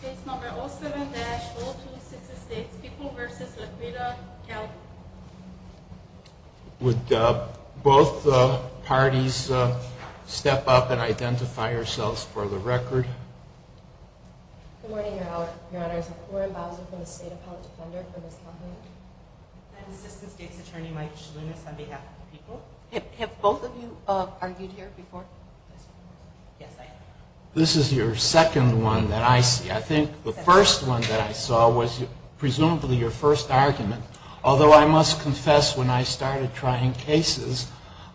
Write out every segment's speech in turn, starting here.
Case number 07-0266, People v. Laquita, Calhoun. Would both parties step up and identify yourselves for the record. Good morning, Your Honors. I'm Corin Bowser from the State Appellate Defender for Ms. Calhoun. I'm Assistant State's Attorney Mike Shalounis on behalf of the People. Have both of you argued here before? Yes, I have. This is your second one that I see. I think the first one that I saw was presumably your first argument. Although I must confess when I started trying cases,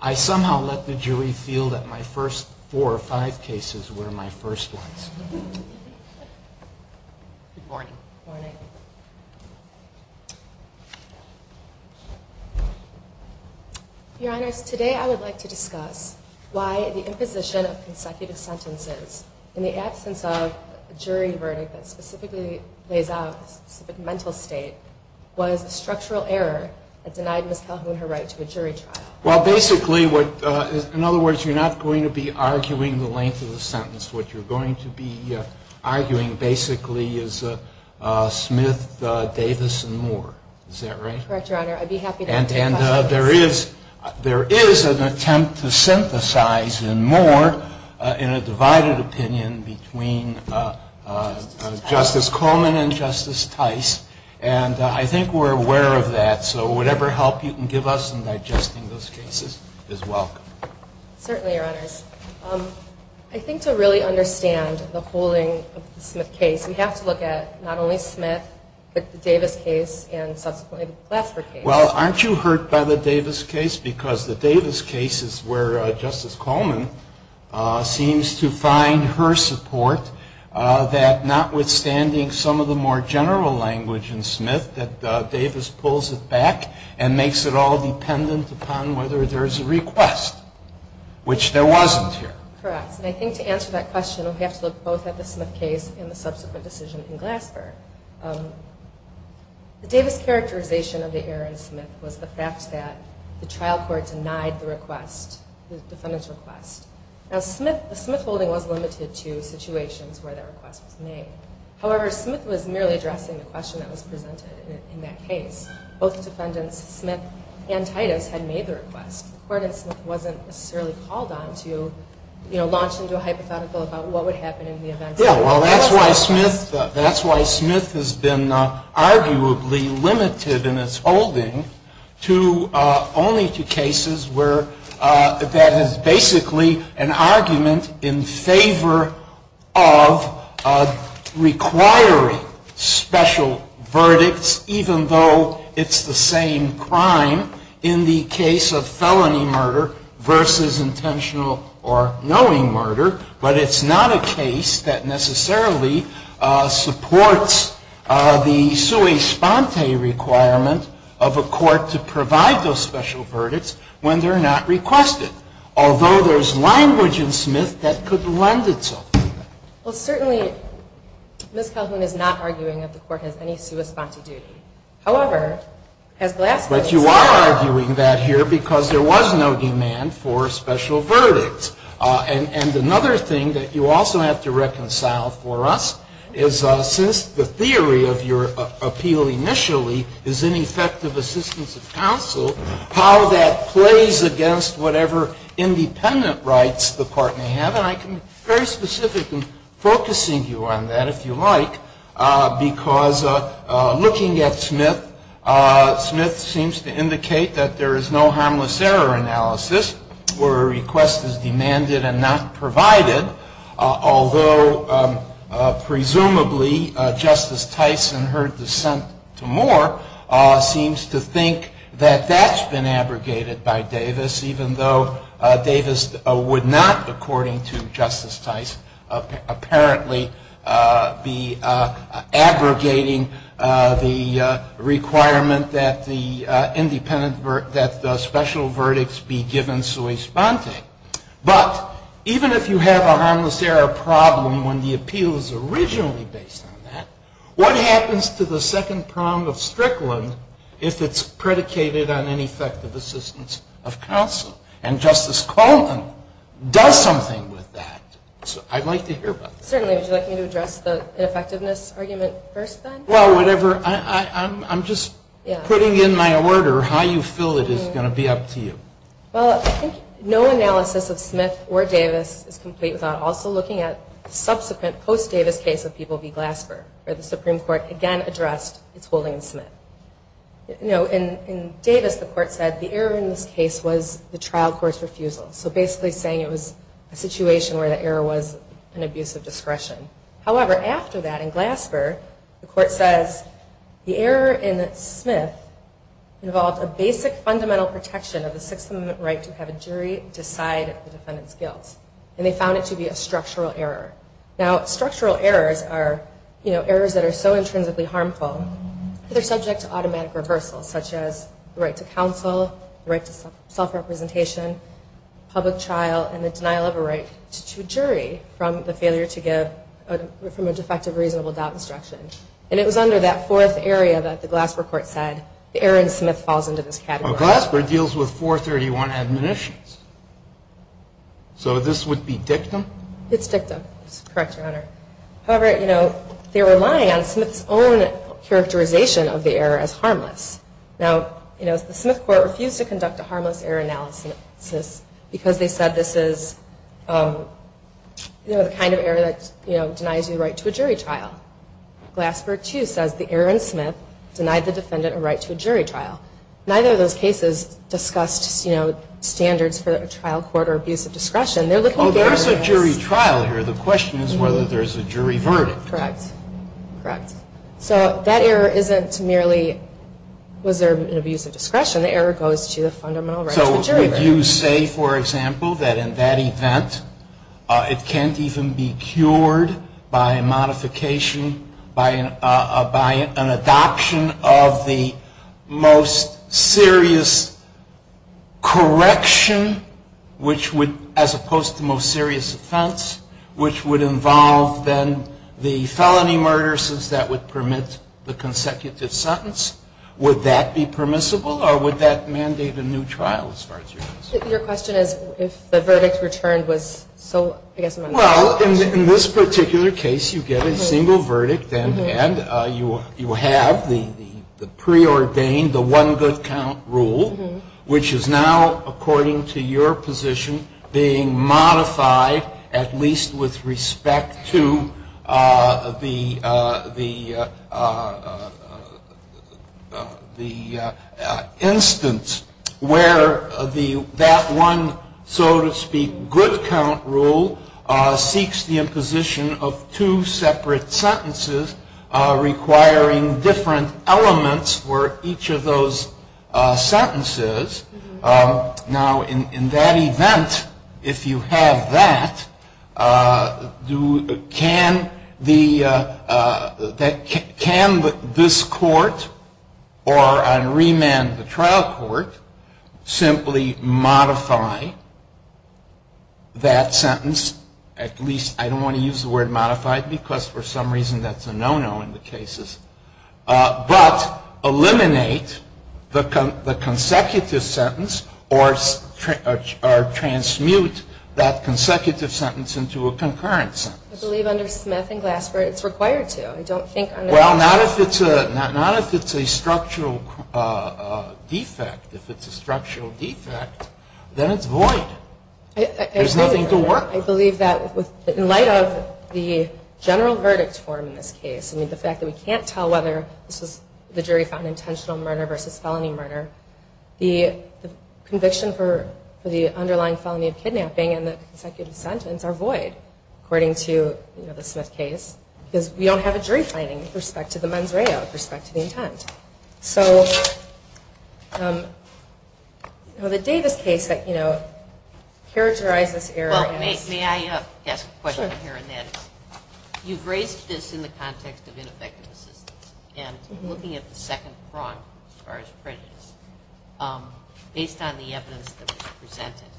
I somehow let the jury feel that my first four or five cases were my first ones. Good morning. Good morning. Good morning. Your Honors, today I would like to discuss why the imposition of consecutive sentences in the absence of a jury verdict that specifically lays out a specific mental state was a structural error that denied Ms. Calhoun her right to a jury trial. Well, basically, in other words, you're not going to be arguing the length of the sentence. What you're going to be arguing basically is Smith, Davis, and Moore. Is that right? Correct, Your Honor. I'd be happy to take questions. And there is an attempt to synthesize in Moore in a divided opinion between Justice Coleman and Justice Tice. And I think we're aware of that. So whatever help you can give us in digesting those cases is welcome. Certainly, Your Honors. I think to really understand the holding of the Smith case, we have to look at not only Smith, but the Davis case and subsequently the Glasser case. Well, aren't you hurt by the Davis case? Because the Davis case is where Justice Coleman seems to find her support that notwithstanding some of the more general language in Smith, that Davis pulls it back and makes it all dependent upon whether there's a request, which there wasn't here. Correct. And I think to answer that question, we have to look both at the Smith case and the subsequent decision in Glasser. The Davis characterization of the error in Smith was the fact that the trial court denied the request, the defendant's request. Now, the Smith holding was limited to situations where that request was made. However, Smith was merely addressing the question that was presented in that case. Both defendants, Smith and Titus, had made the request. The court in Smith wasn't necessarily called on to, you know, launch into a hypothetical about what would happen in the event. Yeah, well, that's why Smith has been arguably limited in its holding to only to cases where that is basically an argument in favor of requiring special verdicts, even though it's the same crime in the case of felony murder versus intentional or knowing murder. But it's not a case that necessarily supports the sua sponte requirement of a court to provide those special verdicts when they're not requested, although there's language in Smith that could lend itself to that. Well, certainly, Ms. Calhoun is not arguing that the court has any sua sponte duty. However, as Glasser has said. But you are arguing that here because there was no demand for special verdicts. And another thing that you also have to reconcile for us is since the theory of your appeal initially is ineffective assistance of counsel, how that plays against whatever independent rights the court may have. And I can be very specific in focusing you on that, if you like, because looking at Smith, Smith seems to indicate that there is no harmless error analysis where a request is demanded and not provided. Although, presumably, Justice Tyson, her dissent to Moore, seems to think that that's been abrogated by Davis, even though Davis would not, according to Justice Tyson, apparently be abrogating the requirement that the independent, that special verdicts be given sua sponte. But even if you have a harmless error problem when the appeal is originally based on that, what happens to the second prong of Strickland if it's predicated on ineffective assistance of counsel? And Justice Coleman does something with that. I'd like to hear about that. Certainly. Would you like me to address the ineffectiveness argument first, then? Well, whatever. I'm just putting in my order how you feel it is going to be up to you. Well, I think no analysis of Smith or Davis is complete without also looking at the subsequent post-Davis case of People v. Glasper, where the Supreme Court again addressed its holding of Smith. In Davis, the court said the error in this case was the trial court's refusal, so basically saying it was a situation where the error was an abuse of discretion. However, after that, in Glasper, the court says the error in Smith involved a basic fundamental protection of the Sixth Amendment right to have a jury decide the defendant's guilt, and they found it to be a structural error. Now, structural errors are errors that are so intrinsically harmful that they're subject to automatic reversal, such as the right to counsel, the right to self-representation, public trial, and the denial of a right to jury from the failure to give from a defective reasonable doubt instruction. And it was under that fourth area that the Glasper court said the error in Smith falls into this category. Now, Glasper deals with 431 admonitions. So this would be dictum? It's dictum. It's correct, Your Honor. However, you know, they were relying on Smith's own characterization of the error as harmless. Now, you know, the Smith court refused to conduct a harmless error analysis because they said this is, you know, the kind of error that, you know, denies you the right to a jury trial. Glasper, too, says the error in Smith denied the defendant a right to a jury trial. Neither of those cases discussed, you know, standards for a trial court or abuse of discretion. There's a jury trial here. The question is whether there's a jury verdict. Correct. Correct. So that error isn't merely was there an abuse of discretion. The error goes to the fundamental right to a jury verdict. So would you say, for example, that in that event it can't even be cured by a modification, by an adoption of the most serious correction, which would, as opposed to most serious offense, which would involve then the felony murder since that would permit the consecutive sentence, would that be permissible or would that mandate a new trial as far as you're concerned? Your question is if the verdict returned was so, I guess, Well, in this particular case, you get a single verdict and you have the preordained, the one good count rule, which is now, according to your position, being modified at least with respect to the instance where that one, so to speak, good count rule seeks the imposition of two separate sentences requiring different elements for each of those sentences. Now, in that event, if you have that, can this court or on remand the trial court simply modify that sentence, at least I don't want to use the word modified because for some reason that's a no-no in the cases, but eliminate the consecutive sentence or transmute that consecutive sentence into a concurrent sentence? I believe under Smith and Glasper it's required to. I don't think under Well, not if it's a structural defect. If it's a structural defect, then it's void. There's nothing to work with. I believe that in light of the general verdict form in this case, the fact that we can't tell whether this is the jury found intentional murder versus felony murder, the conviction for the underlying felony of kidnapping and the consecutive sentence are void, according to the Smith case, because we don't have a jury finding with respect to the mens reo, with respect to the intent. So the Davis case that, you know, characterized this error is May I ask a question here on that? You've raised this in the context of ineffective assistance, and looking at the second prong as far as prejudice, based on the evidence that was presented,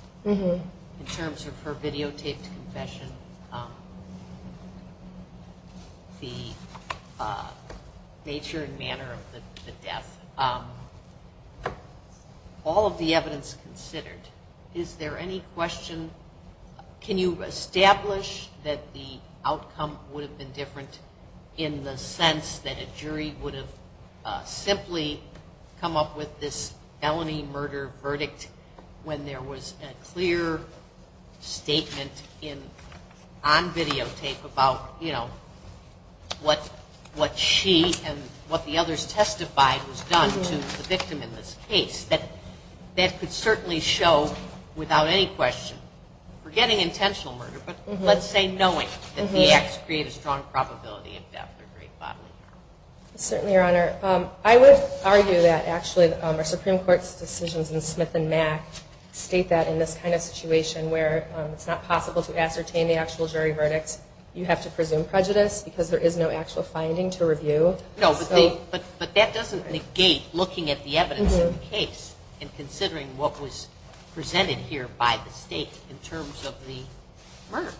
in terms of her videotaped confession, the nature and manner of the death, all of the evidence considered, is there any question, can you establish that the outcome would have been different in the sense that a jury would have come up with this felony murder verdict when there was a clear statement on videotape about, you know, what she and what the others testified was done to the victim in this case? That could certainly show, without any question, forgetting intentional murder, but let's say knowing that the acts create a strong probability of death or grave bodily harm. Certainly, Your Honor. I would argue that actually our Supreme Court's decisions in Smith and Mack state that in this kind of situation where it's not possible to ascertain the actual jury verdicts, you have to presume prejudice because there is no actual finding to review. No, but that doesn't negate looking at the evidence in the case and considering what was presented here by the State in terms of the murder.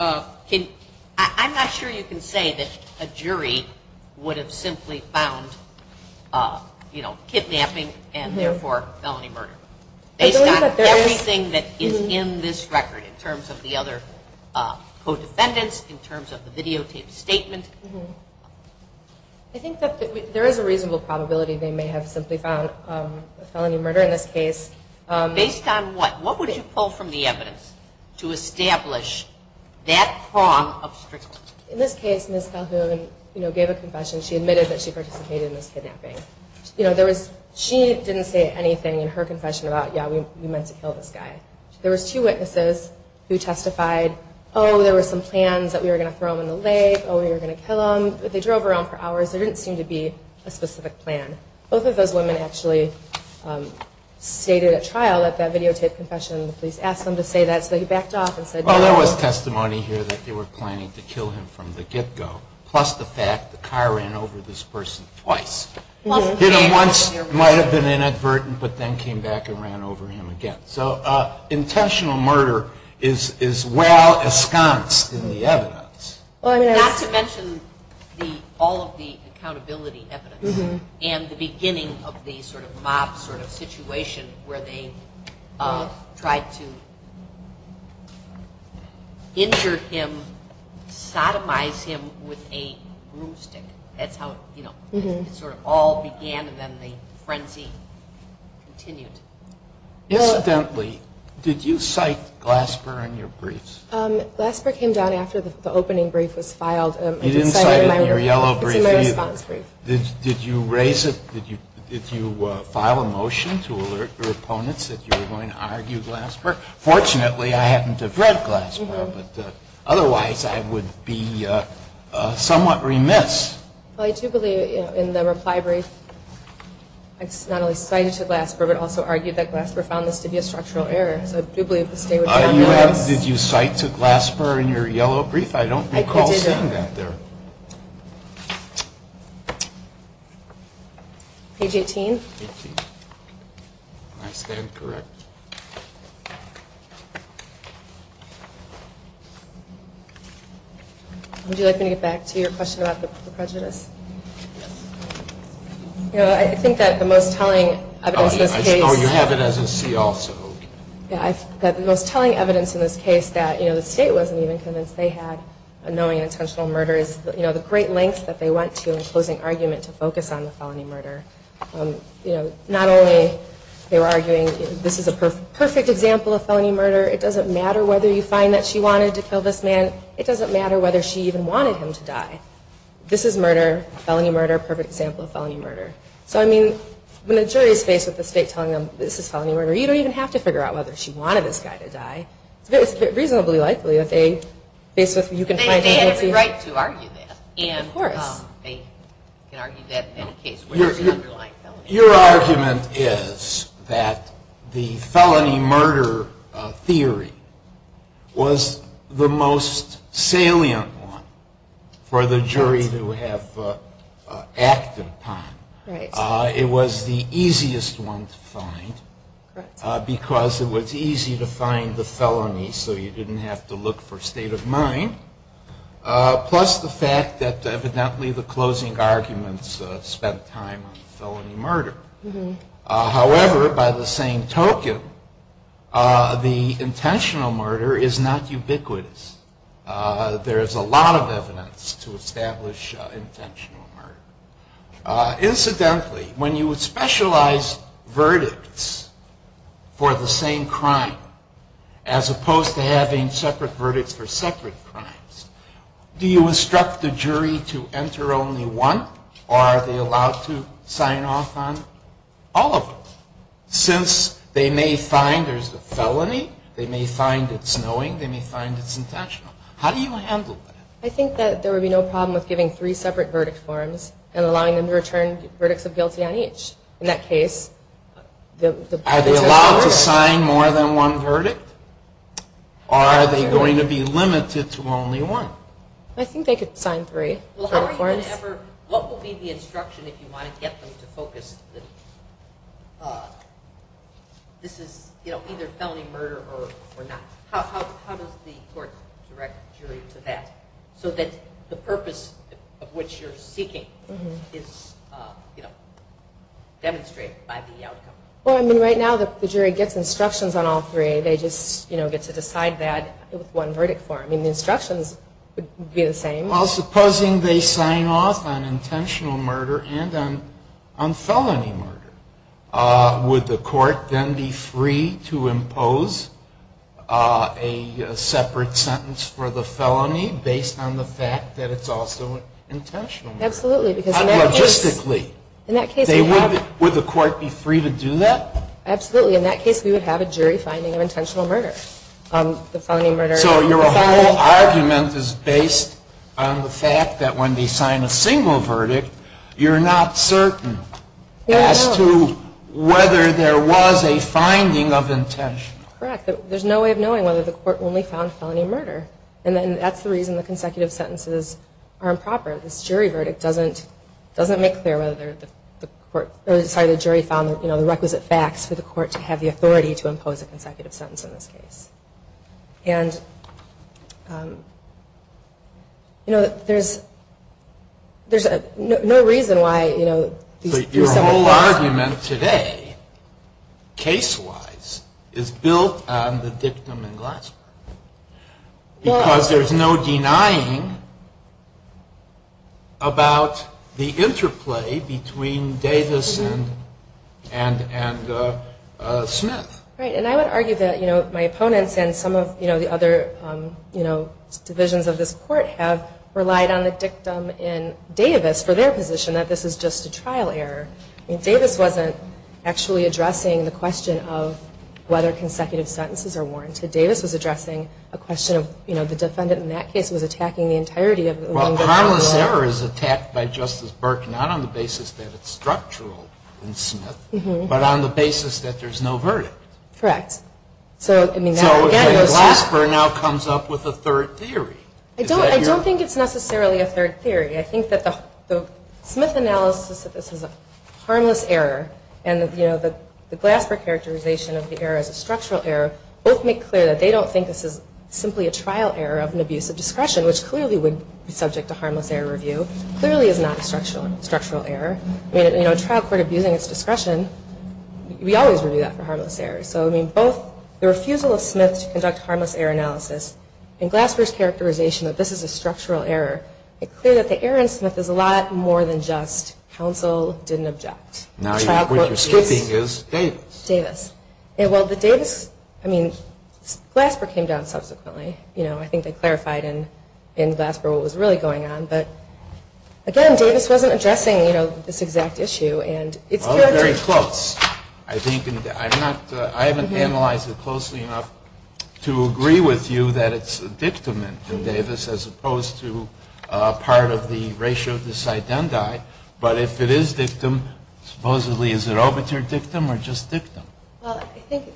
I mean, I'm not sure you can say that a jury would have simply found, you know, kidnapping and therefore felony murder, based on everything that is in this record in terms of the other co-defendants, in terms of the videotaped statement. I think that there is a reasonable probability they may have simply found felony murder in this case. Based on what? What would you pull from the evidence to establish that prong of strictness? In this case, Ms. Calhoun, you know, gave a confession. She admitted that she participated in this kidnapping. You know, there was, she didn't say anything in her confession about, yeah, we meant to kill this guy. There was two witnesses who testified, oh, there were some plans that we were going to throw him in the lake, oh, we were going to kill him, but they drove around for hours. There didn't seem to be a specific plan. Both of those women actually stated at trial that that videotaped confession, the police asked them to say that, so they backed off and said no. Well, there was testimony here that they were planning to kill him from the get-go, plus the fact the car ran over this person twice. Hit him once, might have been inadvertent, but then came back and ran over him again. So intentional murder is well-esconced in the evidence. Not to mention all of the accountability evidence and the beginning of the sort of mob sort of situation where they tried to injure him, sodomize him with a broomstick. That's how it sort of all began, and then the frenzy continued. Incidentally, did you cite Glasper in your briefs? Glasper came down after the opening brief was filed. You didn't cite him in your yellow brief either. It's in my response brief. Did you raise it, did you file a motion to alert your opponents that you were going to argue Glasper? Fortunately, I happen to have read Glasper, but otherwise I would be somewhat remiss. Well, I do believe in the reply brief, it's not only cited to Glasper, but also argued that Glasper found this to be a structural error. So I do believe the state would be remiss. Did you cite to Glasper in your yellow brief? I don't recall seeing that there. Page 18. I stand corrected. Would you like me to get back to your question about the prejudice? Yes. I think that the most telling evidence in this case. Oh, you have it as a C also. That the most telling evidence in this case that the state wasn't even convinced they had a knowing and intentional murder, is the great lengths that they went to in closing argument to focus on the felony murder. You know, not only they were arguing this is a perfect example of felony murder. It doesn't matter whether you find that she wanted to kill this man. It doesn't matter whether she even wanted him to die. This is murder, felony murder, perfect example of felony murder. So, I mean, when a jury is faced with the state telling them this is felony murder, you don't even have to figure out whether she wanted this guy to die. It's reasonably likely that they faced with you can find... They had every right to argue that. Of course. They can argue that in any case. Your argument is that the felony murder theory was the most salient one for the jury to have acted upon. Right. It was the easiest one to find because it was easy to find the felony, so you didn't have to look for state of mind. Plus the fact that evidently the closing arguments spent time on felony murder. However, by the same token, the intentional murder is not ubiquitous. There is a lot of evidence to establish intentional murder. Incidentally, when you would specialize verdicts for the same crime, as opposed to having separate verdicts for separate crimes, do you instruct the jury to enter only one? Or are they allowed to sign off on all of them? Since they may find there's a felony, they may find it's knowing, they may find it's intentional. How do you handle that? I think that there would be no problem with giving three separate verdict forms and allowing them to return verdicts of guilty on each. Are they allowed to sign more than one verdict? Or are they going to be limited to only one? I think they could sign three. What would be the instruction if you want to get them to focus? This is either felony murder or not. How does the court direct the jury to that? So that the purpose of what you're seeking is demonstrated by the outcome. Right now, the jury gets instructions on all three. They just get to decide that with one verdict form. The instructions would be the same. Supposing they sign off on intentional murder and on felony murder, would the court then be free to impose a separate sentence for the felony based on the fact that it's also intentional murder? Absolutely. Logistically. Would the court be free to do that? Absolutely. In that case, we would have a jury finding of intentional murder. So your whole argument is based on the fact that when they sign a single verdict, you're not certain as to whether there was a finding of intentional. Correct. There's no way of knowing whether the court only found felony murder. And that's the reason the consecutive sentences are improper. This jury verdict doesn't make clear whether the jury found the requisite facts for the court to have the authority to impose a consecutive sentence in this case. And, you know, there's no reason why, you know. Your whole argument today, case-wise, is built on the dictum in Glassberg. Because there's no denying about the interplay between Davis and Smith. Right. And I would argue that, you know, my opponents and some of the other, you know, divisions of this court have relied on the dictum in Davis for their position that this is just a trial error. I mean, Davis wasn't actually addressing the question of whether consecutive sentences are warranted. Davis was addressing a question of, you know, the defendant in that case was attacking the entirety of the law. Well, harmless error is attacked by Justice Burke, not on the basis that it's structural in Smith, but on the basis that there's no verdict. Correct. So, again, Glassberg now comes up with a third theory. I don't think it's necessarily a third theory. I think that the Smith analysis that this is a harmless error and, you know, the Glassberg characterization of the error as a structural error both make clear that they don't think this is simply a trial error of an abusive discretion, which clearly would be subject to harmless error review, clearly is not a structural error. I mean, you know, a trial court abusing its discretion, we always review that for harmless error. So, I mean, both the refusal of Smith to conduct harmless error analysis and Glassberg's characterization that this is a structural error make clear that the error in Smith is a lot more than just counsel didn't object. Now what you're skipping is Davis. Davis. Well, the Davis, I mean, Glassberg came down subsequently. You know, I think they clarified in Glassberg what was really going on. But, again, Davis wasn't addressing, you know, this exact issue. Well, very close. I haven't analyzed it closely enough to agree with you that it's a dictament in Davis as opposed to part of the ratio of this identi. But if it is dictum, supposedly is it obituary dictum or just dictum? Well, I think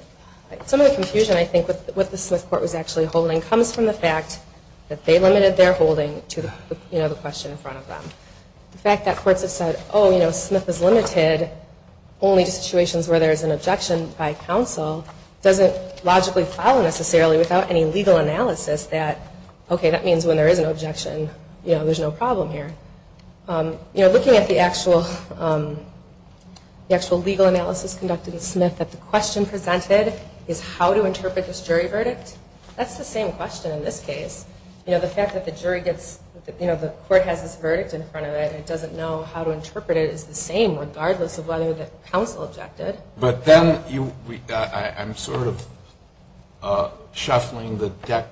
some of the confusion, I think, with what the Smith court was actually holding comes from the fact that they limited their holding to, you know, the question in front of them. The fact that courts have said, oh, you know, Smith is limited only to situations where there is an objection by counsel doesn't logically follow necessarily without any legal analysis that, okay, that means when there is an objection, you know, there's no problem here. You know, looking at the actual legal analysis conducted in Smith that the question presented is how to interpret this jury verdict, that's the same question in this case. You know, the fact that the jury gets, you know, the court has this verdict in front of it and it doesn't know how to interpret it is the same regardless of whether the counsel objected. But then I'm sort of shuffling the deck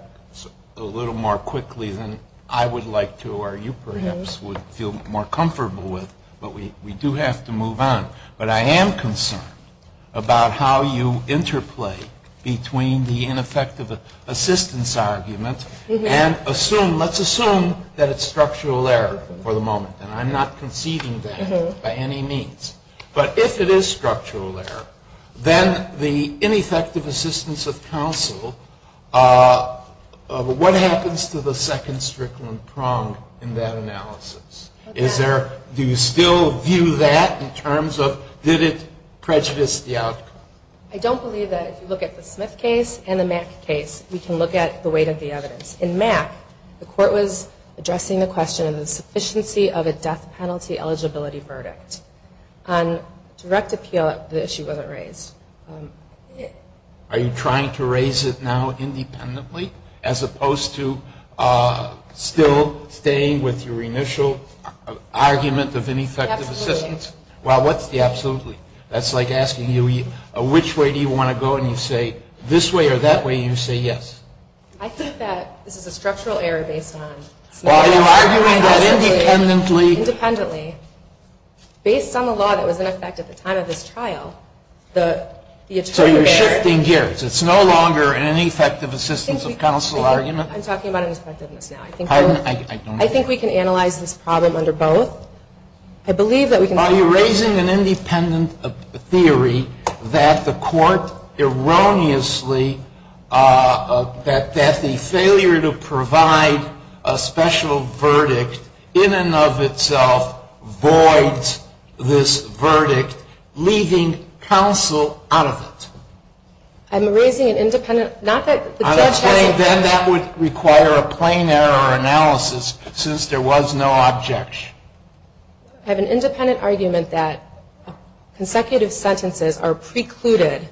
a little more quickly than I would like to or you perhaps would feel more comfortable with. But we do have to move on. But I am concerned about how you interplay between the ineffective assistance argument and let's assume that it's structural error for the moment. And I'm not conceding that by any means. But if it is structural error, then the ineffective assistance of counsel, what happens to the second strickland prong in that analysis? Do you still view that in terms of did it prejudice the outcome? I don't believe that if you look at the Smith case and the Mack case, we can look at the weight of the evidence. In Mack, the court was addressing the question of the sufficiency of a death penalty versus the eligibility verdict. On direct appeal, the issue wasn't raised. Are you trying to raise it now independently as opposed to still staying with your initial argument of ineffective assistance? Absolutely. Well, what's the absolutely? That's like asking you which way do you want to go and you say this way or that way and you say yes. I think that this is a structural error based on Smith. Are you arguing that independently? Independently. Based on the law that was in effect at the time of this trial, the attorney So you're shifting gears. It's no longer an ineffective assistance of counsel argument? I'm talking about an effectiveness now. Pardon? I think we can analyze this problem under both. I believe that we can Are you raising an independent theory that the court erroneously, that the failure to provide a special verdict in and of itself voids this verdict, leaving counsel out of it? I'm raising an independent, not that the judge has Then that would require a plain error analysis since there was no objection. I have an independent argument that consecutive sentences are precluded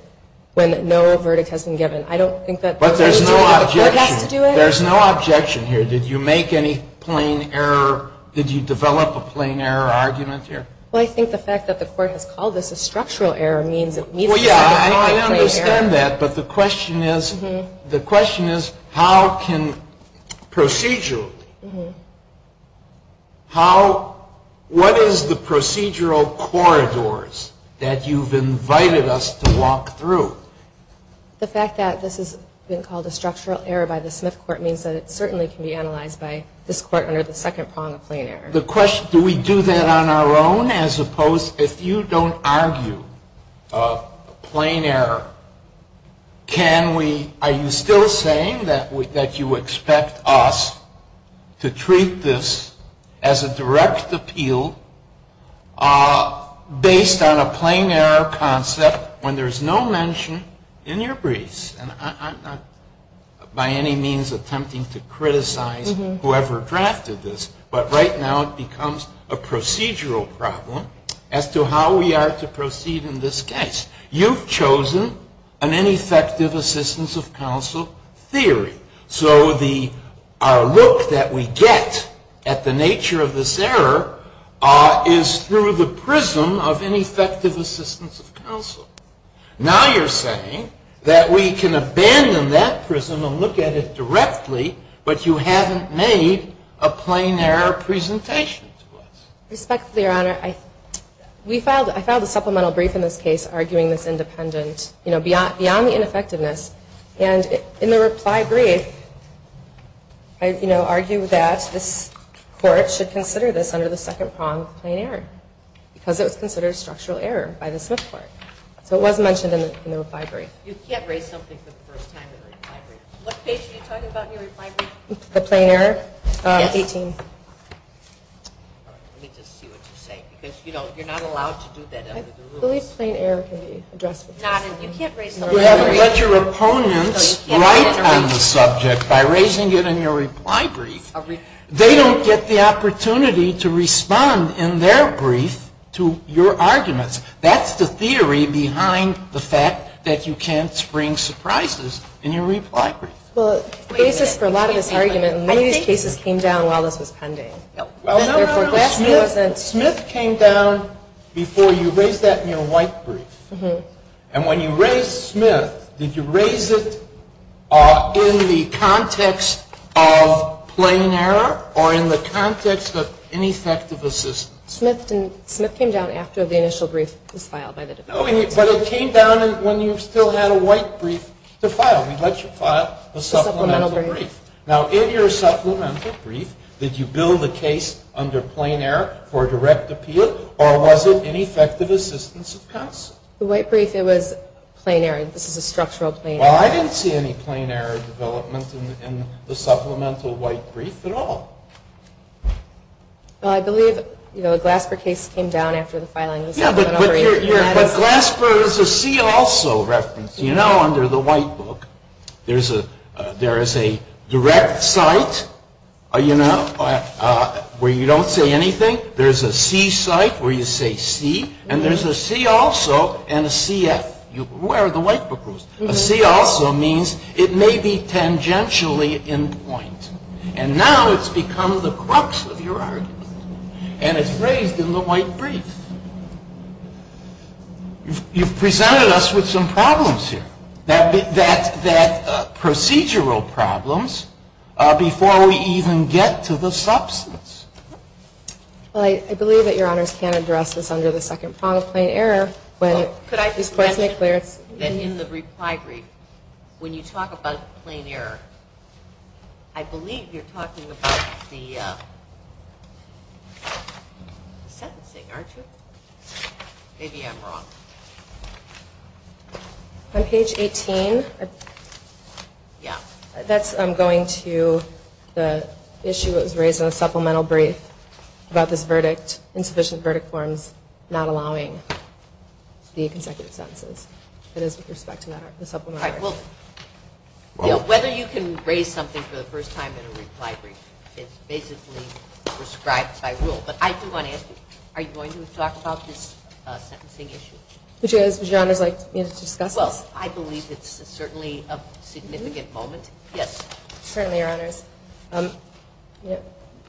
when no verdict has been given. But there's no objection. There's no objection here. Did you make any plain error? Did you develop a plain error argument here? Well, I think the fact that the court has called this a structural error means Well, yeah, I understand that, but the question is how can procedurally, how, what is the procedural corridors that you've invited us to walk through? The fact that this has been called a structural error by the Smith court means that it certainly can be analyzed by this court under the second prong of plain error. The question, do we do that on our own as opposed, if you don't argue a plain error, can we, are you still saying that you expect us to treat this as a direct appeal based on a plain error concept when there's no mention in your briefs? And I'm not by any means attempting to criticize whoever drafted this, but right now it becomes a procedural problem as to how we are to proceed in this case. You've chosen an ineffective assistance of counsel theory. So our look that we get at the nature of this error is through the prism of ineffective assistance of counsel. Now you're saying that we can abandon that prism and look at it directly, but you haven't made a plain error presentation to us. Respectfully, Your Honor, we filed, I filed a supplemental brief in this case arguing this independent, you know, beyond the ineffectiveness. And in the reply brief, I, you know, argue that this court should consider this under the second prong of plain error because it was considered a structural error by the Smith court. So it was mentioned in the reply brief. You can't raise something for the first time in a reply brief. What page are you talking about in your reply brief? The plain error? Yes. 18. Let me just see what you say because, you know, you're not allowed to do that under the rules. I believe plain error can be addressed. You can't raise something in a reply brief. You haven't let your opponents write on the subject by raising it in your reply brief. They don't get the opportunity to respond in their brief to your arguments. That's the theory behind the fact that you can't spring surprises in your reply brief. Well, the basis for a lot of this argument in many of these cases came down while this was pending. Therefore, Grassley wasn't. No, no, no. Smith came down before you raised that in your white brief. And when you raised Smith, did you raise it in the context of plain error or in the context of ineffectiveness? Smith came down after the initial brief was filed by the defense. But it came down when you still had a white brief to file. We let you file the supplemental brief. Now, in your supplemental brief, did you bill the case under plain error for direct appeal or was it ineffective assistance of counsel? The white brief, it was plain error. This is a structural plain error. Well, I didn't see any plain error development in the supplemental white brief at all. Well, I believe, you know, the Glasper case came down after the filing of the supplemental brief. Yeah, but Glasper is a C also reference. You know, under the white book, there is a direct site, you know, where you don't say anything. There is a C site where you say C. And there is a C also and a CF. Where are the white book rules? A C also means it may be tangentially in point. And now it's become the crux of your argument. And it's raised in the white brief. You've presented us with some problems here. That procedural problems before we even get to the substance. Well, I believe that Your Honors can address this under the second prong of plain error. Could I just mention that in the reply brief, when you talk about plain error, I believe you're talking about the sentencing, aren't you? Maybe I'm wrong. On page 18. Yeah. That's going to the issue that was raised in the supplemental brief about this verdict, insufficient verdict forms not allowing the consecutive sentences. That is with respect to the supplemental brief. Whether you can raise something for the first time in a reply brief is basically prescribed by rule. But I do want to ask you, are you going to talk about this sentencing issue? Would Your Honors like me to discuss this? Well, I believe it's certainly a significant moment. Yes. Certainly, Your Honors.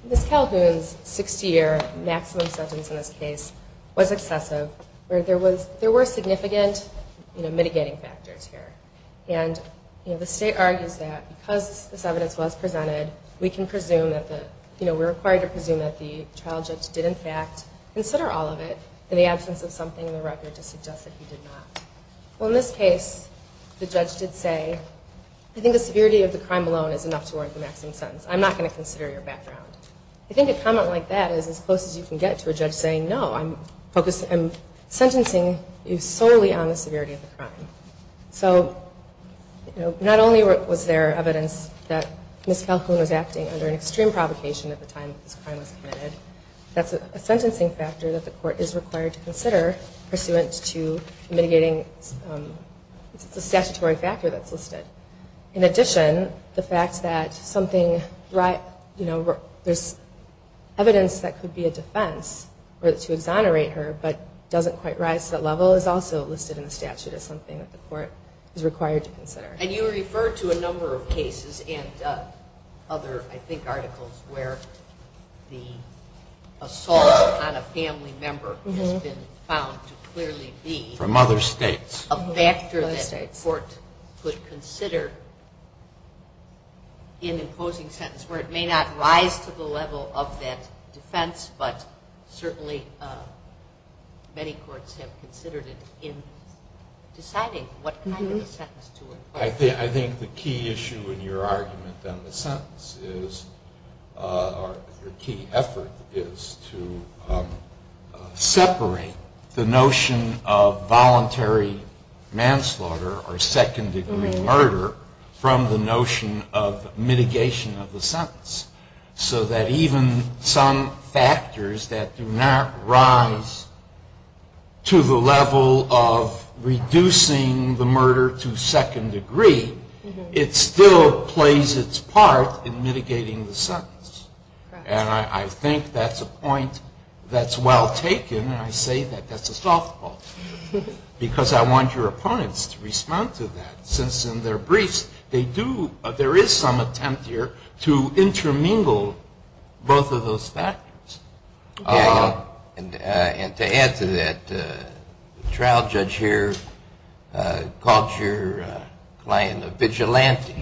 Ms. Calhoun's 60-year maximum sentence in this case was excessive. There were significant mitigating factors here. And the state argues that because this evidence was presented, we're required to presume that the trial judge did in fact consider all of it in the absence of something in the record to suggest that he did not. Well, in this case, the judge did say, I think the severity of the crime alone is enough to warrant the maximum sentence. I'm not going to consider your background. I think a comment like that is as close as you can get to a judge saying, no, I'm sentencing you solely on the severity of the crime. So not only was there evidence that Ms. Calhoun was acting under an extreme provocation at the time that this crime was committed, that's a sentencing factor that the court is required to consider pursuant to mitigating the statutory factor that's listed. In addition, the fact that there's evidence that could be a defense or to exonerate her but doesn't quite rise to that level is also listed in the statute as something that the court is required to consider. And you referred to a number of cases and other, I think, articles where the assault on a family member has been found to clearly be From other states. A factor that the court could consider in imposing sentence where it may not rise to the level of that defense, but certainly many courts have considered it in deciding what kind of a sentence to impose. I think the key issue in your argument on the sentence is, or the key effort is to separate the notion of voluntary manslaughter or second-degree murder from the notion of mitigation of the sentence. So that even some factors that do not rise to the level of reducing the murder to second degree, it still plays its part in mitigating the sentence. And I think that's a point that's well taken. I say that that's a softball because I want your opponents to respond to that since in their briefs there is some attempt here to intermingle both of those factors. And to add to that, the trial judge here called your client a vigilante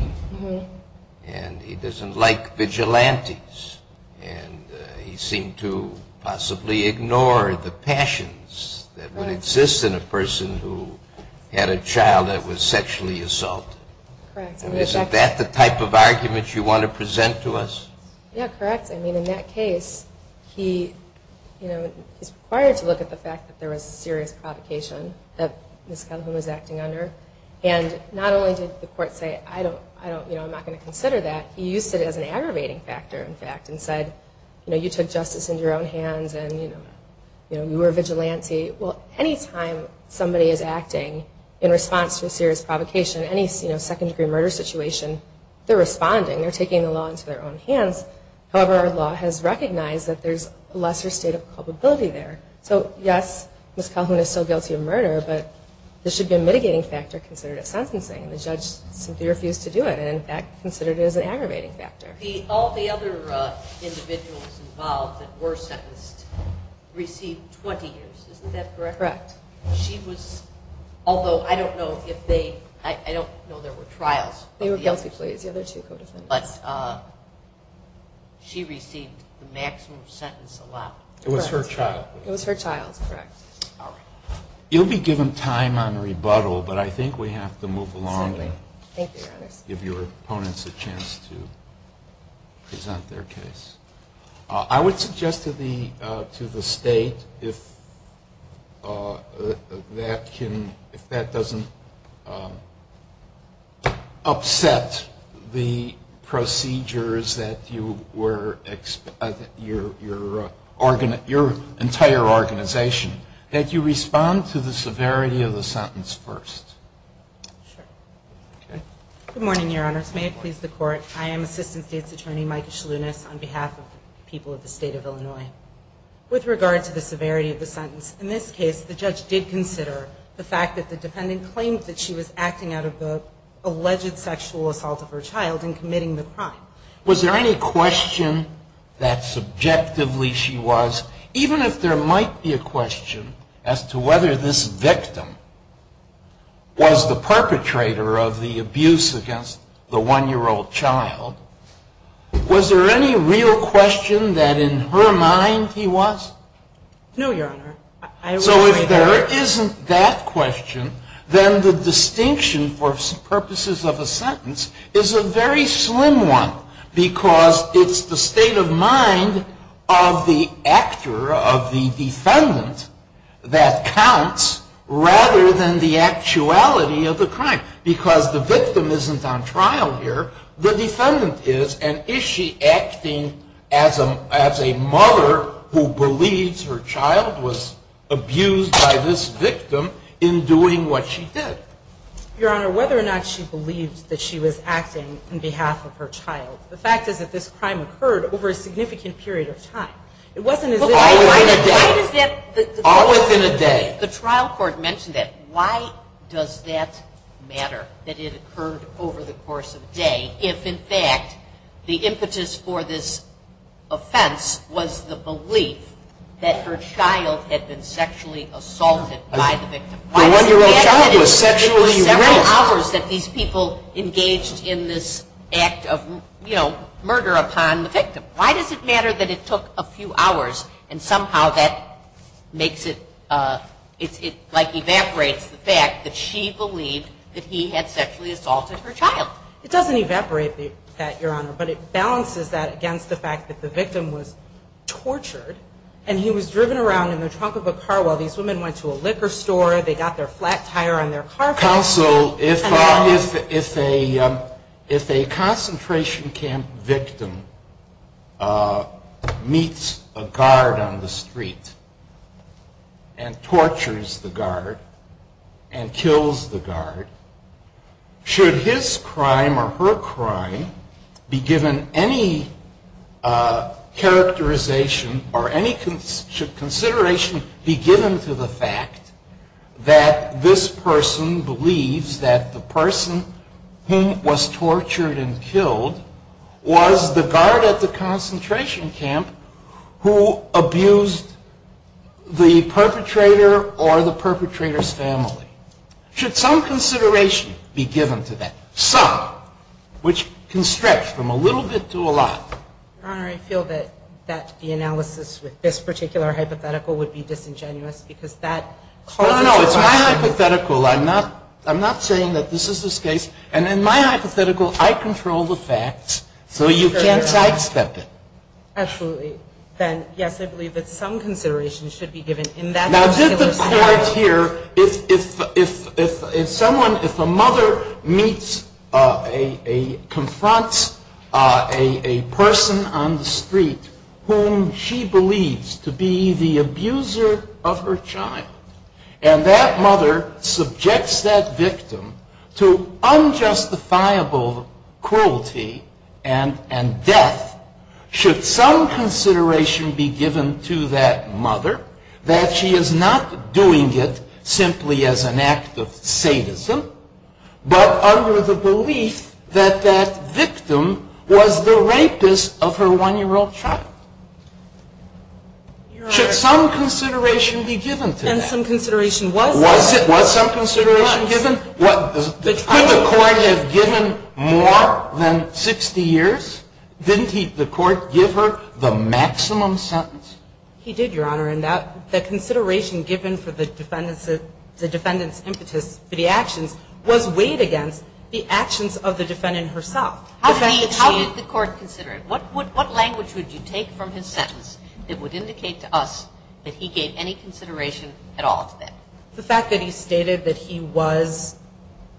and he doesn't like vigilantes and he seemed to possibly ignore the passions that would exist in a person who had a child that was sexually assaulted. Correct. And isn't that the type of argument you want to present to us? Yeah, correct. I mean, in that case, he is required to look at the fact that there was a serious provocation that Ms. Cunlhan was acting under. And not only did the court say, I'm not going to consider that, he used it as an aggravating factor, in fact, and said, you took justice into your own hands and you were a vigilante. Well, any time somebody is acting in response to a serious provocation, any second degree murder situation, they're responding. They're taking the law into their own hands. However, our law has recognized that there's a lesser state of culpability there. So, yes, Ms. Cunlhan is still guilty of murder, but there should be a mitigating factor considered at sentencing. And the judge simply refused to do it and, in fact, considered it as an aggravating factor. All the other individuals involved that were sentenced received 20 years. Isn't that correct? Correct. She was, although I don't know if they, I don't know there were trials. They were guilty, please. Yeah, there are two co-defendants. But she received the maximum sentence allowed. It was her child. It was her child, correct. All right. You'll be given time on rebuttal, but I think we have to move along. Exactly. Thank you, Your Honor. Give your opponents a chance to present their case. I would suggest to the state if that doesn't upset the procedures that you were, your entire organization, that you respond to the severity of the sentence first. Sure. Okay. Good morning, Your Honors. May it please the Court, I am Assistant State's Attorney, Micah Shalounis, on behalf of the people of the State of Illinois. With regard to the severity of the sentence, in this case, the judge did consider the fact that the defendant claimed that she was acting out of the alleged sexual assault of her child and committing the crime. Was there any question that subjectively she was, even if there might be a question as to whether this victim was the perpetrator of the abuse against the one-year-old child, was there any real question that in her mind he was? No, Your Honor. So if there isn't that question, then the distinction for purposes of a sentence is a very slim one because it's the state of mind of the actor, of the defendant, that counts rather than the actuality of the crime. Because the victim isn't on trial here, the defendant is, and is she acting as a mother who believes her child was abused by this victim in doing what she did? Your Honor, whether or not she believed that she was acting on behalf of her child, the fact is that this crime occurred over a significant period of time. It wasn't as if it was a crime. All within a day. All within a day. The trial court mentioned that. Why does that matter, that it occurred over the course of a day, if in fact the impetus for this offense was the belief that her child had been sexually assaulted by the victim? When your child was sexually raped. It was several hours that these people engaged in this act of, you know, murder upon the victim. Why does it matter that it took a few hours and somehow that makes it like evaporates the fact that she believed that he had sexually assaulted her child? It doesn't evaporate that, Your Honor, but it balances that against the fact that the victim was tortured and he was driven around in the trunk of a car while these women went to a liquor store, they got their flat tire on their car. Counsel, if a concentration camp victim meets a guard on the street and tortures the guard and kills the guard, should his crime or her crime be given any characterization or any consideration be given to the fact that this person believes that the person who was tortured and killed was the guard at the concentration camp who abused the perpetrator or the perpetrator's family? Should some consideration be given to that? Some, which can stretch from a little bit to a lot. Your Honor, I feel that the analysis with this particular hypothetical would be disingenuous because that causes a lot of... No, no, no, it's my hypothetical. I'm not saying that this is the case. And in my hypothetical, I control the facts, so you can't sidestep it. Absolutely. Then, yes, I believe that some consideration should be given in that particular... Now, did the court here, if a mother confronts a person on the street whom she believes to be the abuser of her child, and that mother subjects that victim to unjustifiable cruelty and death, should some consideration be given to that mother, that she is not doing it simply as an act of sadism, but under the belief that that victim was the rapist of her one-year-old child? Should some consideration be given to that? And some consideration was... Was some consideration given? Could the court have given more than 60 years? Didn't the court give her the maximum sentence? He did, Your Honor, and the consideration given for the defendant's impetus for the actions was weighed against the actions of the defendant herself. How did the court consider it? What language would you take from his sentence that would indicate to us that he gave any consideration at all to that? The fact that he stated that he was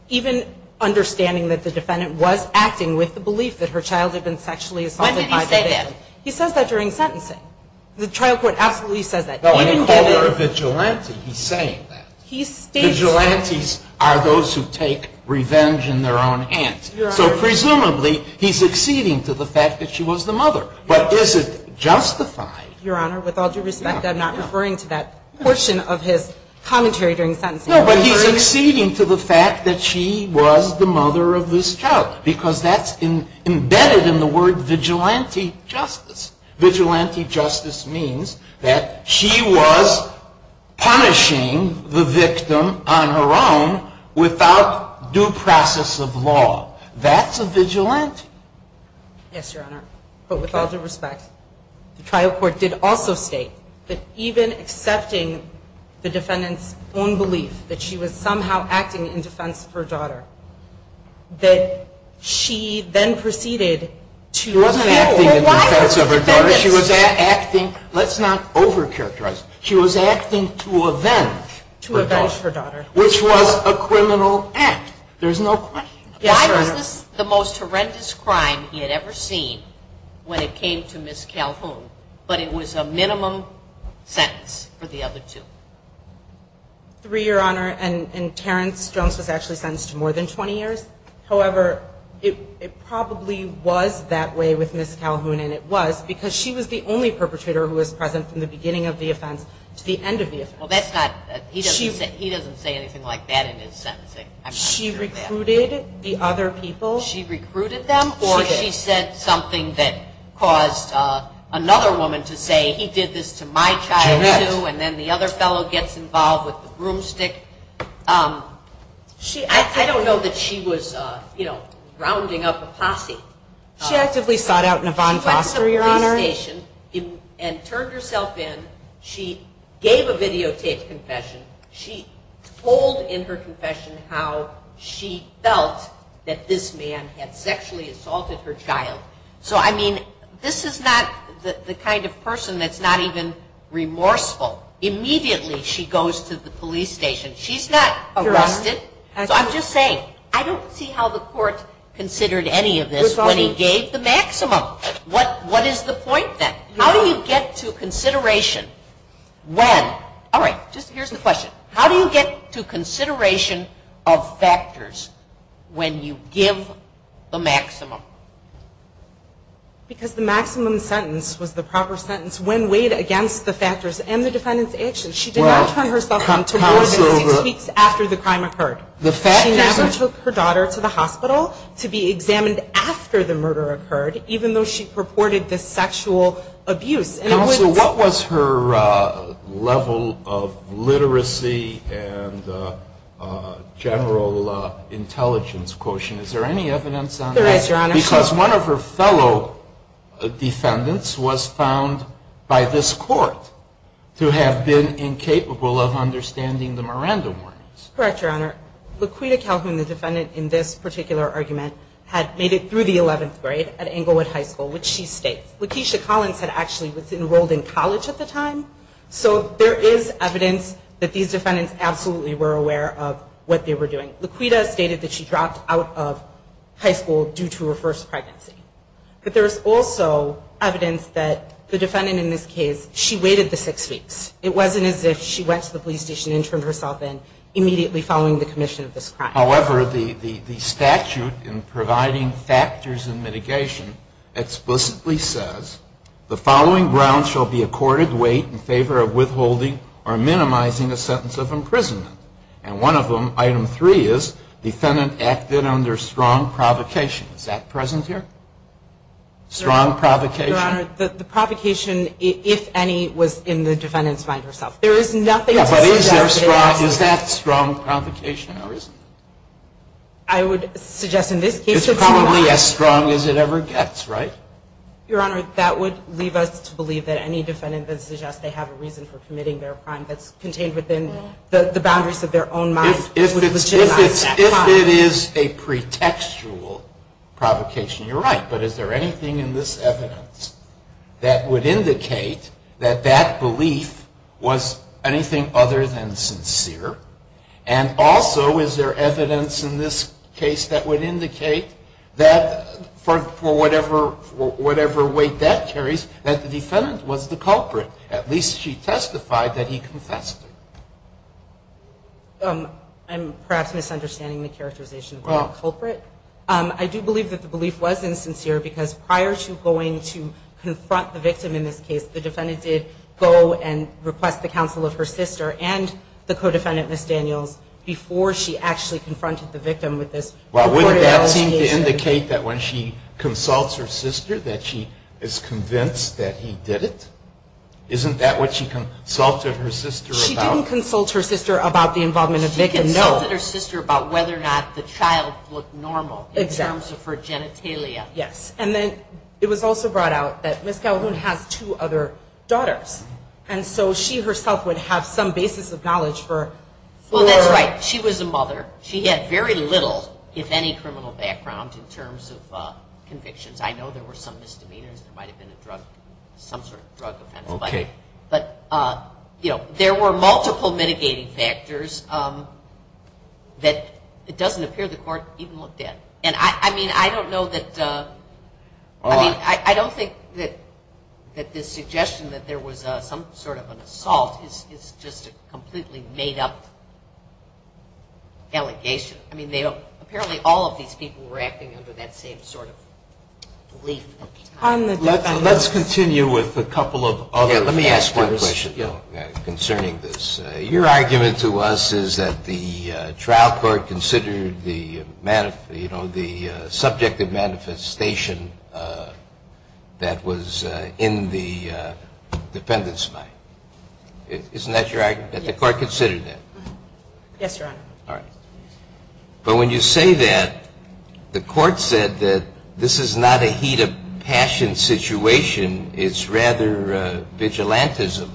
even understanding that the defendant was acting with the belief that her child had been sexually assaulted by the victim. When did he say that? He says that during sentencing. The trial court absolutely says that. No, I didn't call her a vigilante. He's saying that. He states... Vigilantes are those who take revenge in their own hands. Your Honor... So presumably, he's acceding to the fact that she was the mother, but is it justified? Your Honor, with all due respect, I'm not referring to that portion of his commentary during sentencing. No, but he's acceding to the fact that she was the mother of this child. Because that's embedded in the word vigilante justice. Vigilante justice means that she was punishing the victim on her own without due process of law. That's a vigilante. Yes, Your Honor, but with all due respect, the trial court did also state that even accepting the defendant's own belief that she was somehow acting in defense of her daughter, that she then proceeded to... It wasn't acting in defense of her daughter. She was acting... Let's not overcharacterize. She was acting to avenge her daughter. To avenge her daughter. Which was a criminal act. There's no question. Yes, Your Honor. Why was this the most horrendous crime he had ever seen when it came to Miss Calhoun, but it was a minimum sentence for the other two? Three, Your Honor, and Terrence Jones was actually sentenced to more than 20 years. However, it probably was that way with Miss Calhoun, and it was because she was the only perpetrator who was present from the beginning of the offense to the end of the offense. Well, that's not... He doesn't say anything like that in his sentencing. She recruited the other people. She recruited them, or she said something that caused another woman to say, he did this to my child, too, and then the other fellow gets involved with the broomstick. I don't know that she was rounding up a posse. She actively sought out Nevon Foster, Your Honor. She went to the police station and turned herself in. She gave a videotaped confession. She told in her confession how she felt that this man had sexually assaulted her child. So, I mean, this is not the kind of person that's not even remorseful. Immediately she goes to the police station. She's not arrested. So I'm just saying, I don't see how the court considered any of this when he gave the maximum. What is the point, then? How do you get to consideration when... All right, just here's the question. How do you get to consideration of factors when you give the maximum? Because the maximum sentence was the proper sentence when weighed against the factors and the defendant's actions. She did not turn herself in to more than six weeks after the crime occurred. She never took her daughter to the hospital to be examined after the murder occurred, even though she purported this sexual abuse. Counsel, what was her level of literacy and general intelligence quotient? Is there any evidence on that? There is, Your Honor. Because one of her fellow defendants was found by this court to have been incapable of understanding the Miranda warnings. Correct, Your Honor. Laquita Calhoun, the defendant in this particular argument, had made it through the 11th grade at Englewood High School, which she states. Laquisha Collins had actually enrolled in college at the time. So there is evidence that these defendants absolutely were aware of what they were doing. Laquita stated that she dropped out of high school due to her first pregnancy. But there is also evidence that the defendant in this case, she waited the six weeks. It wasn't as if she went to the police station and turned herself in immediately following the commission of this crime. However, the statute in providing factors in mitigation explicitly says, the following grounds shall be accorded weight in favor of withholding or minimizing a sentence of imprisonment. And one of them, Item 3, is defendant acted under strong provocation. Is that present here? Strong provocation? Your Honor, the provocation, if any, was in the defendant's mind herself. There is nothing to suggest that it wasn't. Is that strong provocation or isn't it? I would suggest in this case it's not. It's probably as strong as it ever gets, right? Your Honor, that would leave us to believe that any defendant that suggests they have a reason for committing their crime that's contained within the boundaries of their own mind would legitimize that crime. If it is a pretextual provocation, you're right. But is there anything in this evidence that would indicate that that belief was anything other than sincere? And also, is there evidence in this case that would indicate that, for whatever weight that carries, that the defendant was the culprit? At least she testified that he confessed. I'm perhaps misunderstanding the characterization of being a culprit. I do believe that the belief was insincere because prior to going to confront the victim in this case, the defendant did go and request the counsel of her sister and the co-defendant, Ms. Daniels, before she actually confronted the victim with this. Well, wouldn't that seem to indicate that when she consults her sister that she is convinced that he did it? Isn't that what she consulted her sister about? She didn't consult her sister about the involvement of the victim, no. She consulted her sister about whether or not the child looked normal in terms of her genitalia. Yes. And then it was also brought out that Ms. Calhoun has two other daughters, and so she herself would have some basis of knowledge for her. Well, that's right. She was a mother. She had very little, if any, criminal background in terms of convictions. I know there were some misdemeanors. There might have been some sort of drug offense. Okay. But, you know, there were multiple mitigating factors that it doesn't appear the court even looked at. And, I mean, I don't know that the suggestion that there was some sort of an assault is just a completely made-up allegation. I mean, apparently all of these people were acting under that same sort of belief. Let's continue with a couple of other factors concerning this. Your argument to us is that the trial court considered the, you know, the subjective manifestation that was in the defendant's mind. Isn't that your argument, that the court considered that? Yes, Your Honor. All right. But when you say that, the court said that this is not a heat of passion situation. It's rather vigilantism.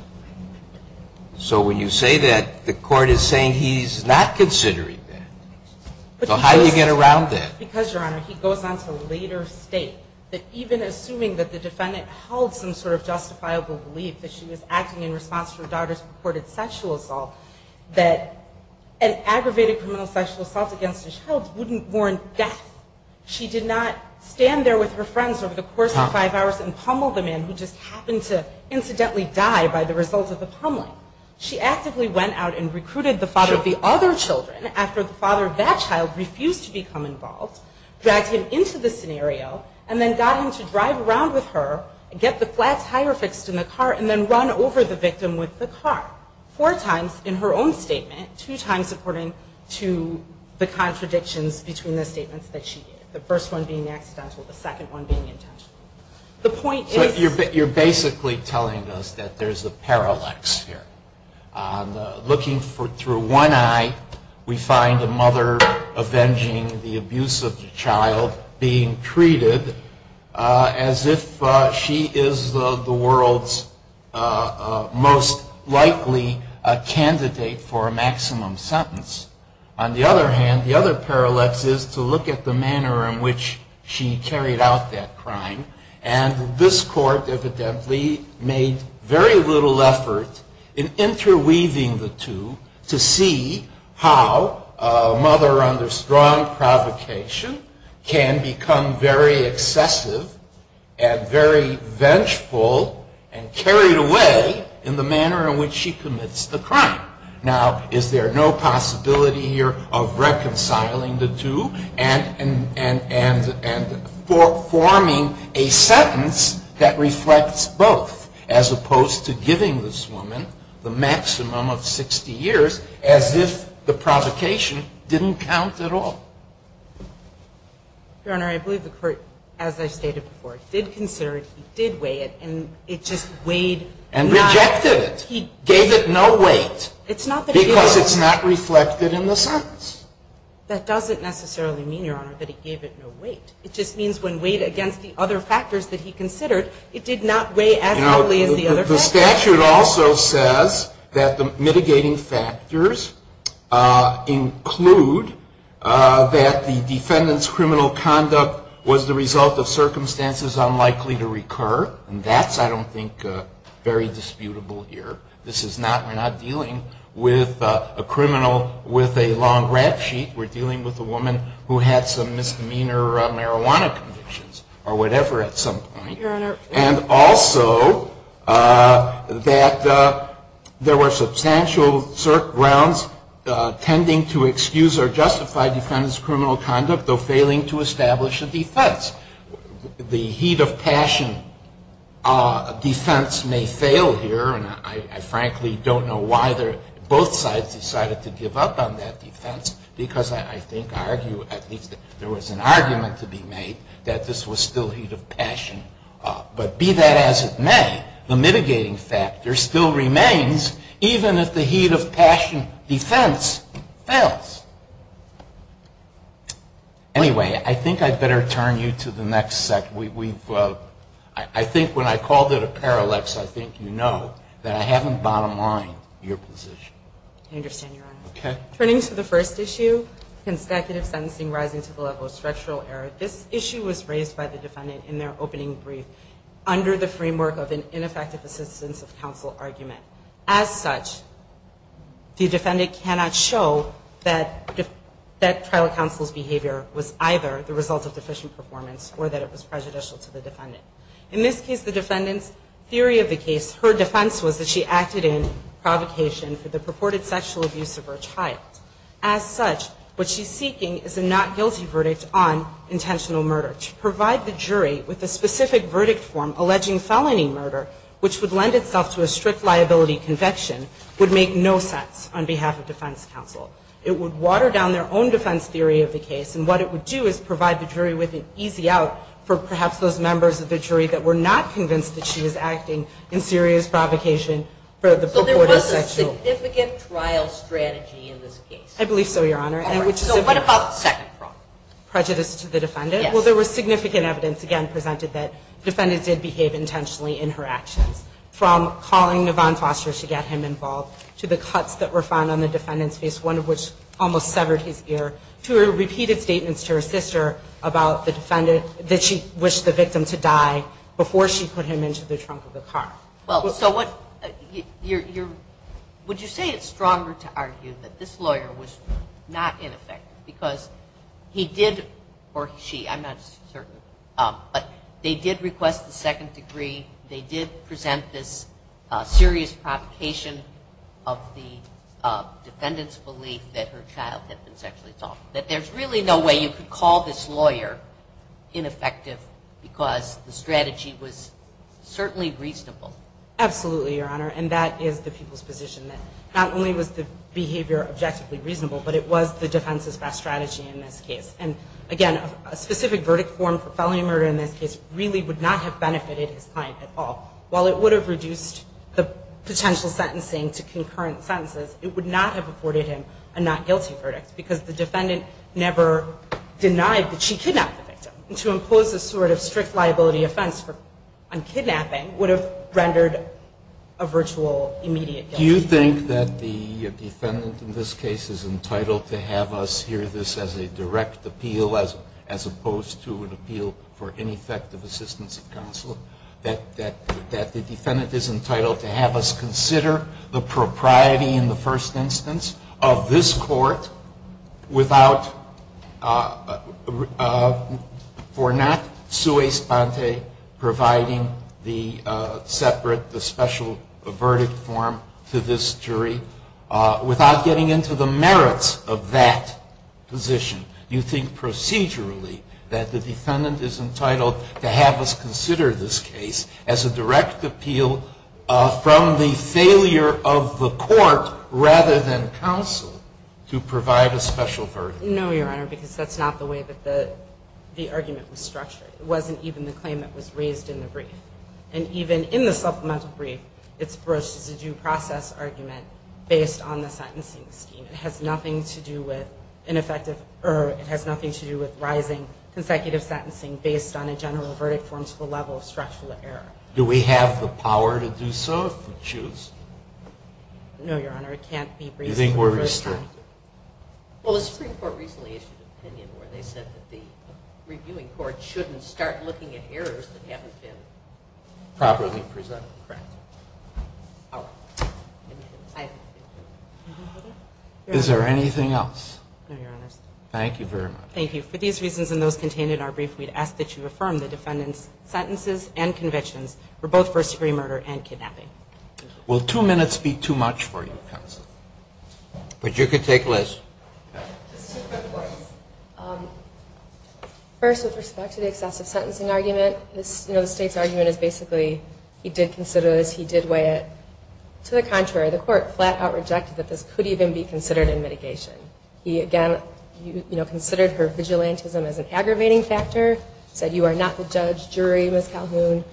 So when you say that, the court is saying he's not considering that. So how do you get around that? Because, Your Honor, he goes on to later state that even assuming that the defendant held some sort of justifiable belief that she was acting in response to her daughter's purported sexual assault, that an aggravated criminal sexual assault against a child wouldn't warrant death. She did not stand there with her friends over the course of five hours and the result of the pummeling. She actively went out and recruited the father of the other children after the father of that child refused to become involved, dragged him into the scenario, and then got him to drive around with her, get the flat tire fixed in the car, and then run over the victim with the car. Four times in her own statement, two times according to the contradictions between the statements that she gave. The first one being accidental, the second one being intentional. So you're basically telling us that there's a parallax here. Looking through one eye, we find a mother avenging the abuse of the child being treated as if she is the world's most likely candidate for a maximum sentence. On the other hand, the other parallax is to look at the manner in which she commits the crime. And this court evidently made very little effort in interweaving the two to see how a mother under strong provocation can become very excessive and very vengeful and carried away in the manner in which she commits the crime. Now, is there no possibility here of reconciling the two and forming a sentence that reflects both as opposed to giving this woman the maximum of 60 years as if the provocation didn't count at all? Your Honor, I believe the court, as I stated before, did consider it. He did weigh it. And it just weighed. And rejected it. He gave it no weight because it's not reflected in the sentence. That doesn't necessarily mean, Your Honor, that he gave it no weight. It just means when weighed against the other factors that he considered, it did not weigh as heavily as the other factors. The statute also says that the mitigating factors include that the defendant's criminal conduct was the result of circumstances unlikely to recur. And that's, I don't think, very disputable here. This is not, we're not dealing with a criminal with a long rap sheet. We're dealing with a woman who had some misdemeanor marijuana convictions or whatever at some point. Your Honor. And also that there were substantial grounds tending to excuse or justify defendant's criminal conduct, though failing to establish a defense. The heat of passion defense may fail here. And I frankly don't know why both sides decided to give up on that defense. Because I think, I argue, at least there was an argument to be made, that this was still heat of passion. But be that as it may, the mitigating factor still remains, even if the heat of passion defense fails. Anyway, I think I'd better turn you to the next section. We've, I think when I called it a parallax, I think you know that I haven't bottom-lined your position. I understand, Your Honor. Okay. Turning to the first issue, consecutive sentencing rising to the level of structural error. This issue was raised by the defendant in their opening brief under the framework of an ineffective assistance of counsel argument. As such, the defendant cannot show that trial counsel's behavior was either the result of deficient performance or that it was prejudicial to the defendant. In this case, the defendant's theory of the case, her defense was that she acted in provocation for the purported sexual abuse of her child. As such, what she's seeking is a not guilty verdict on intentional murder. To provide the jury with a specific verdict form alleging felony murder, which would lend itself to a strict liability conviction, would make no sense on behalf of defense counsel. It would water down their own defense theory of the case, and what it would do is provide the jury with an easy out for perhaps those members of the jury that were not convinced that she was acting in serious provocation for the purported sexual. So there was a significant trial strategy in this case? I believe so, Your Honor. All right. So what about the second problem? Prejudice to the defendant? Yes. Well, there was significant evidence, again, presented that the defendant did behave intentionally in her actions. From calling Yvonne Foster to get him involved, to the cuts that were found on the defendant's face, one of which almost severed his ear, to repeated statements to her sister about the defendant, that she wished the victim to die before she put him into the trunk of the car. Well, so what you're – would you say it's stronger to argue that this lawyer was not ineffective because he did, or she, I'm not certain, but they did request the second degree, they did present this serious provocation of the defendant's belief that her child had been sexually assaulted, that there's really no way you could call this lawyer ineffective because the strategy was certainly reasonable? Absolutely, Your Honor, and that is the people's position that not only was the behavior objectively reasonable, but it was the defense's best strategy in this case. And, again, a specific verdict form for felony murder in this case really would not have benefited his client at all. While it would have reduced the potential sentencing to concurrent sentences, it would not have afforded him a not guilty verdict because the defendant never denied that she kidnapped the victim. To impose a sort of strict liability offense on kidnapping would have rendered a virtual immediate guilt. Do you think that the defendant in this case is entitled to have us hear this as a direct appeal as opposed to an appeal for ineffective assistance of counsel, that the defendant is entitled to have us consider the propriety in the first instance of this court for not sui sponte providing the separate, the special verdict form to this jury without getting into the merits of that position? Do you think procedurally that the defendant is entitled to have us consider this case as a direct appeal from the failure of the court rather than counsel to provide a special verdict? No, Your Honor, because that's not the way that the argument was structured. It wasn't even the claim that was raised in the brief. And even in the supplemental brief, it's broached as a due process argument based on the sentencing scheme. It has nothing to do with rising consecutive sentencing based on a general verdict form to the level of structural error. Do we have the power to do so if we choose? No, Your Honor, it can't be briefed. Do you think we're restricted? Well, the Supreme Court recently issued an opinion where they said that the reviewing court shouldn't start looking at errors that haven't been properly presented. Correct. Is there anything else? No, Your Honor. Thank you very much. Thank you. For these reasons and those contained in our brief, we'd ask that you affirm the defendant's sentences and convictions for both first-degree murder and kidnapping. Will two minutes be too much for you, counsel? But you could take less. First, the State's argument is basically he did consider it as he was entitled to because he did weigh it. To the contrary, the court flat-out rejected that this could even be considered in mitigation. He, again, considered her vigilantism as an aggravating factor, said you are not the judge, jury, Ms. Calhoun.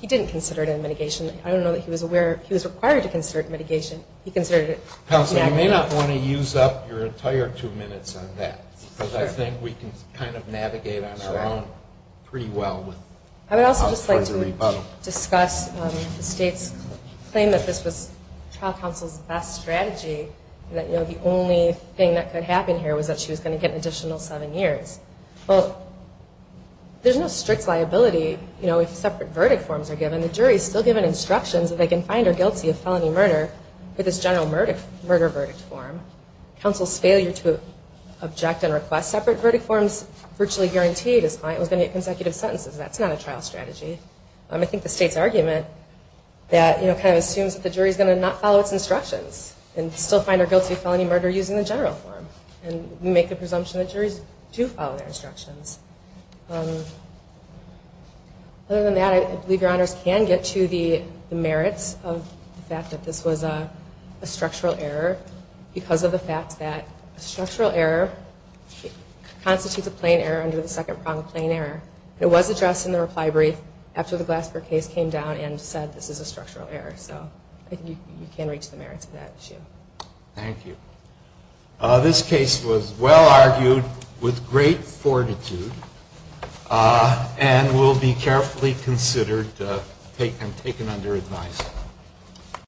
He didn't consider it in mitigation. I don't know that he was aware. He was required to consider it in mitigation. He considered it in aggravating. Counsel, you may not want to use up your entire two minutes on that because I think we can kind of navigate on our own pretty well. I would also just like to discuss the State's claim that this was trial counsel's best strategy, that the only thing that could happen here was that she was going to get an additional seven years. Well, there's no strict liability if separate verdict forms are given. The jury is still given instructions that they can find her guilty of felony murder for this general murder verdict form. Counsel's failure to object and request separate verdict forms virtually guaranteed is fine. It was going to get consecutive sentences. That's not a trial strategy. I think the State's argument that, you know, kind of assumes that the jury is going to not follow its instructions and still find her guilty of felony murder using the general form. And we make the presumption that juries do follow their instructions. Other than that, I believe your honors can get to the merits of the fact that this was a structural error because of the fact that a structural error constitutes a second pronged plain error. It was addressed in the reply brief after the Glasper case came down and said this is a structural error. So I think you can reach the merits of that issue. Thank you. This case was well argued with great fortitude and will be carefully considered and taken under advice.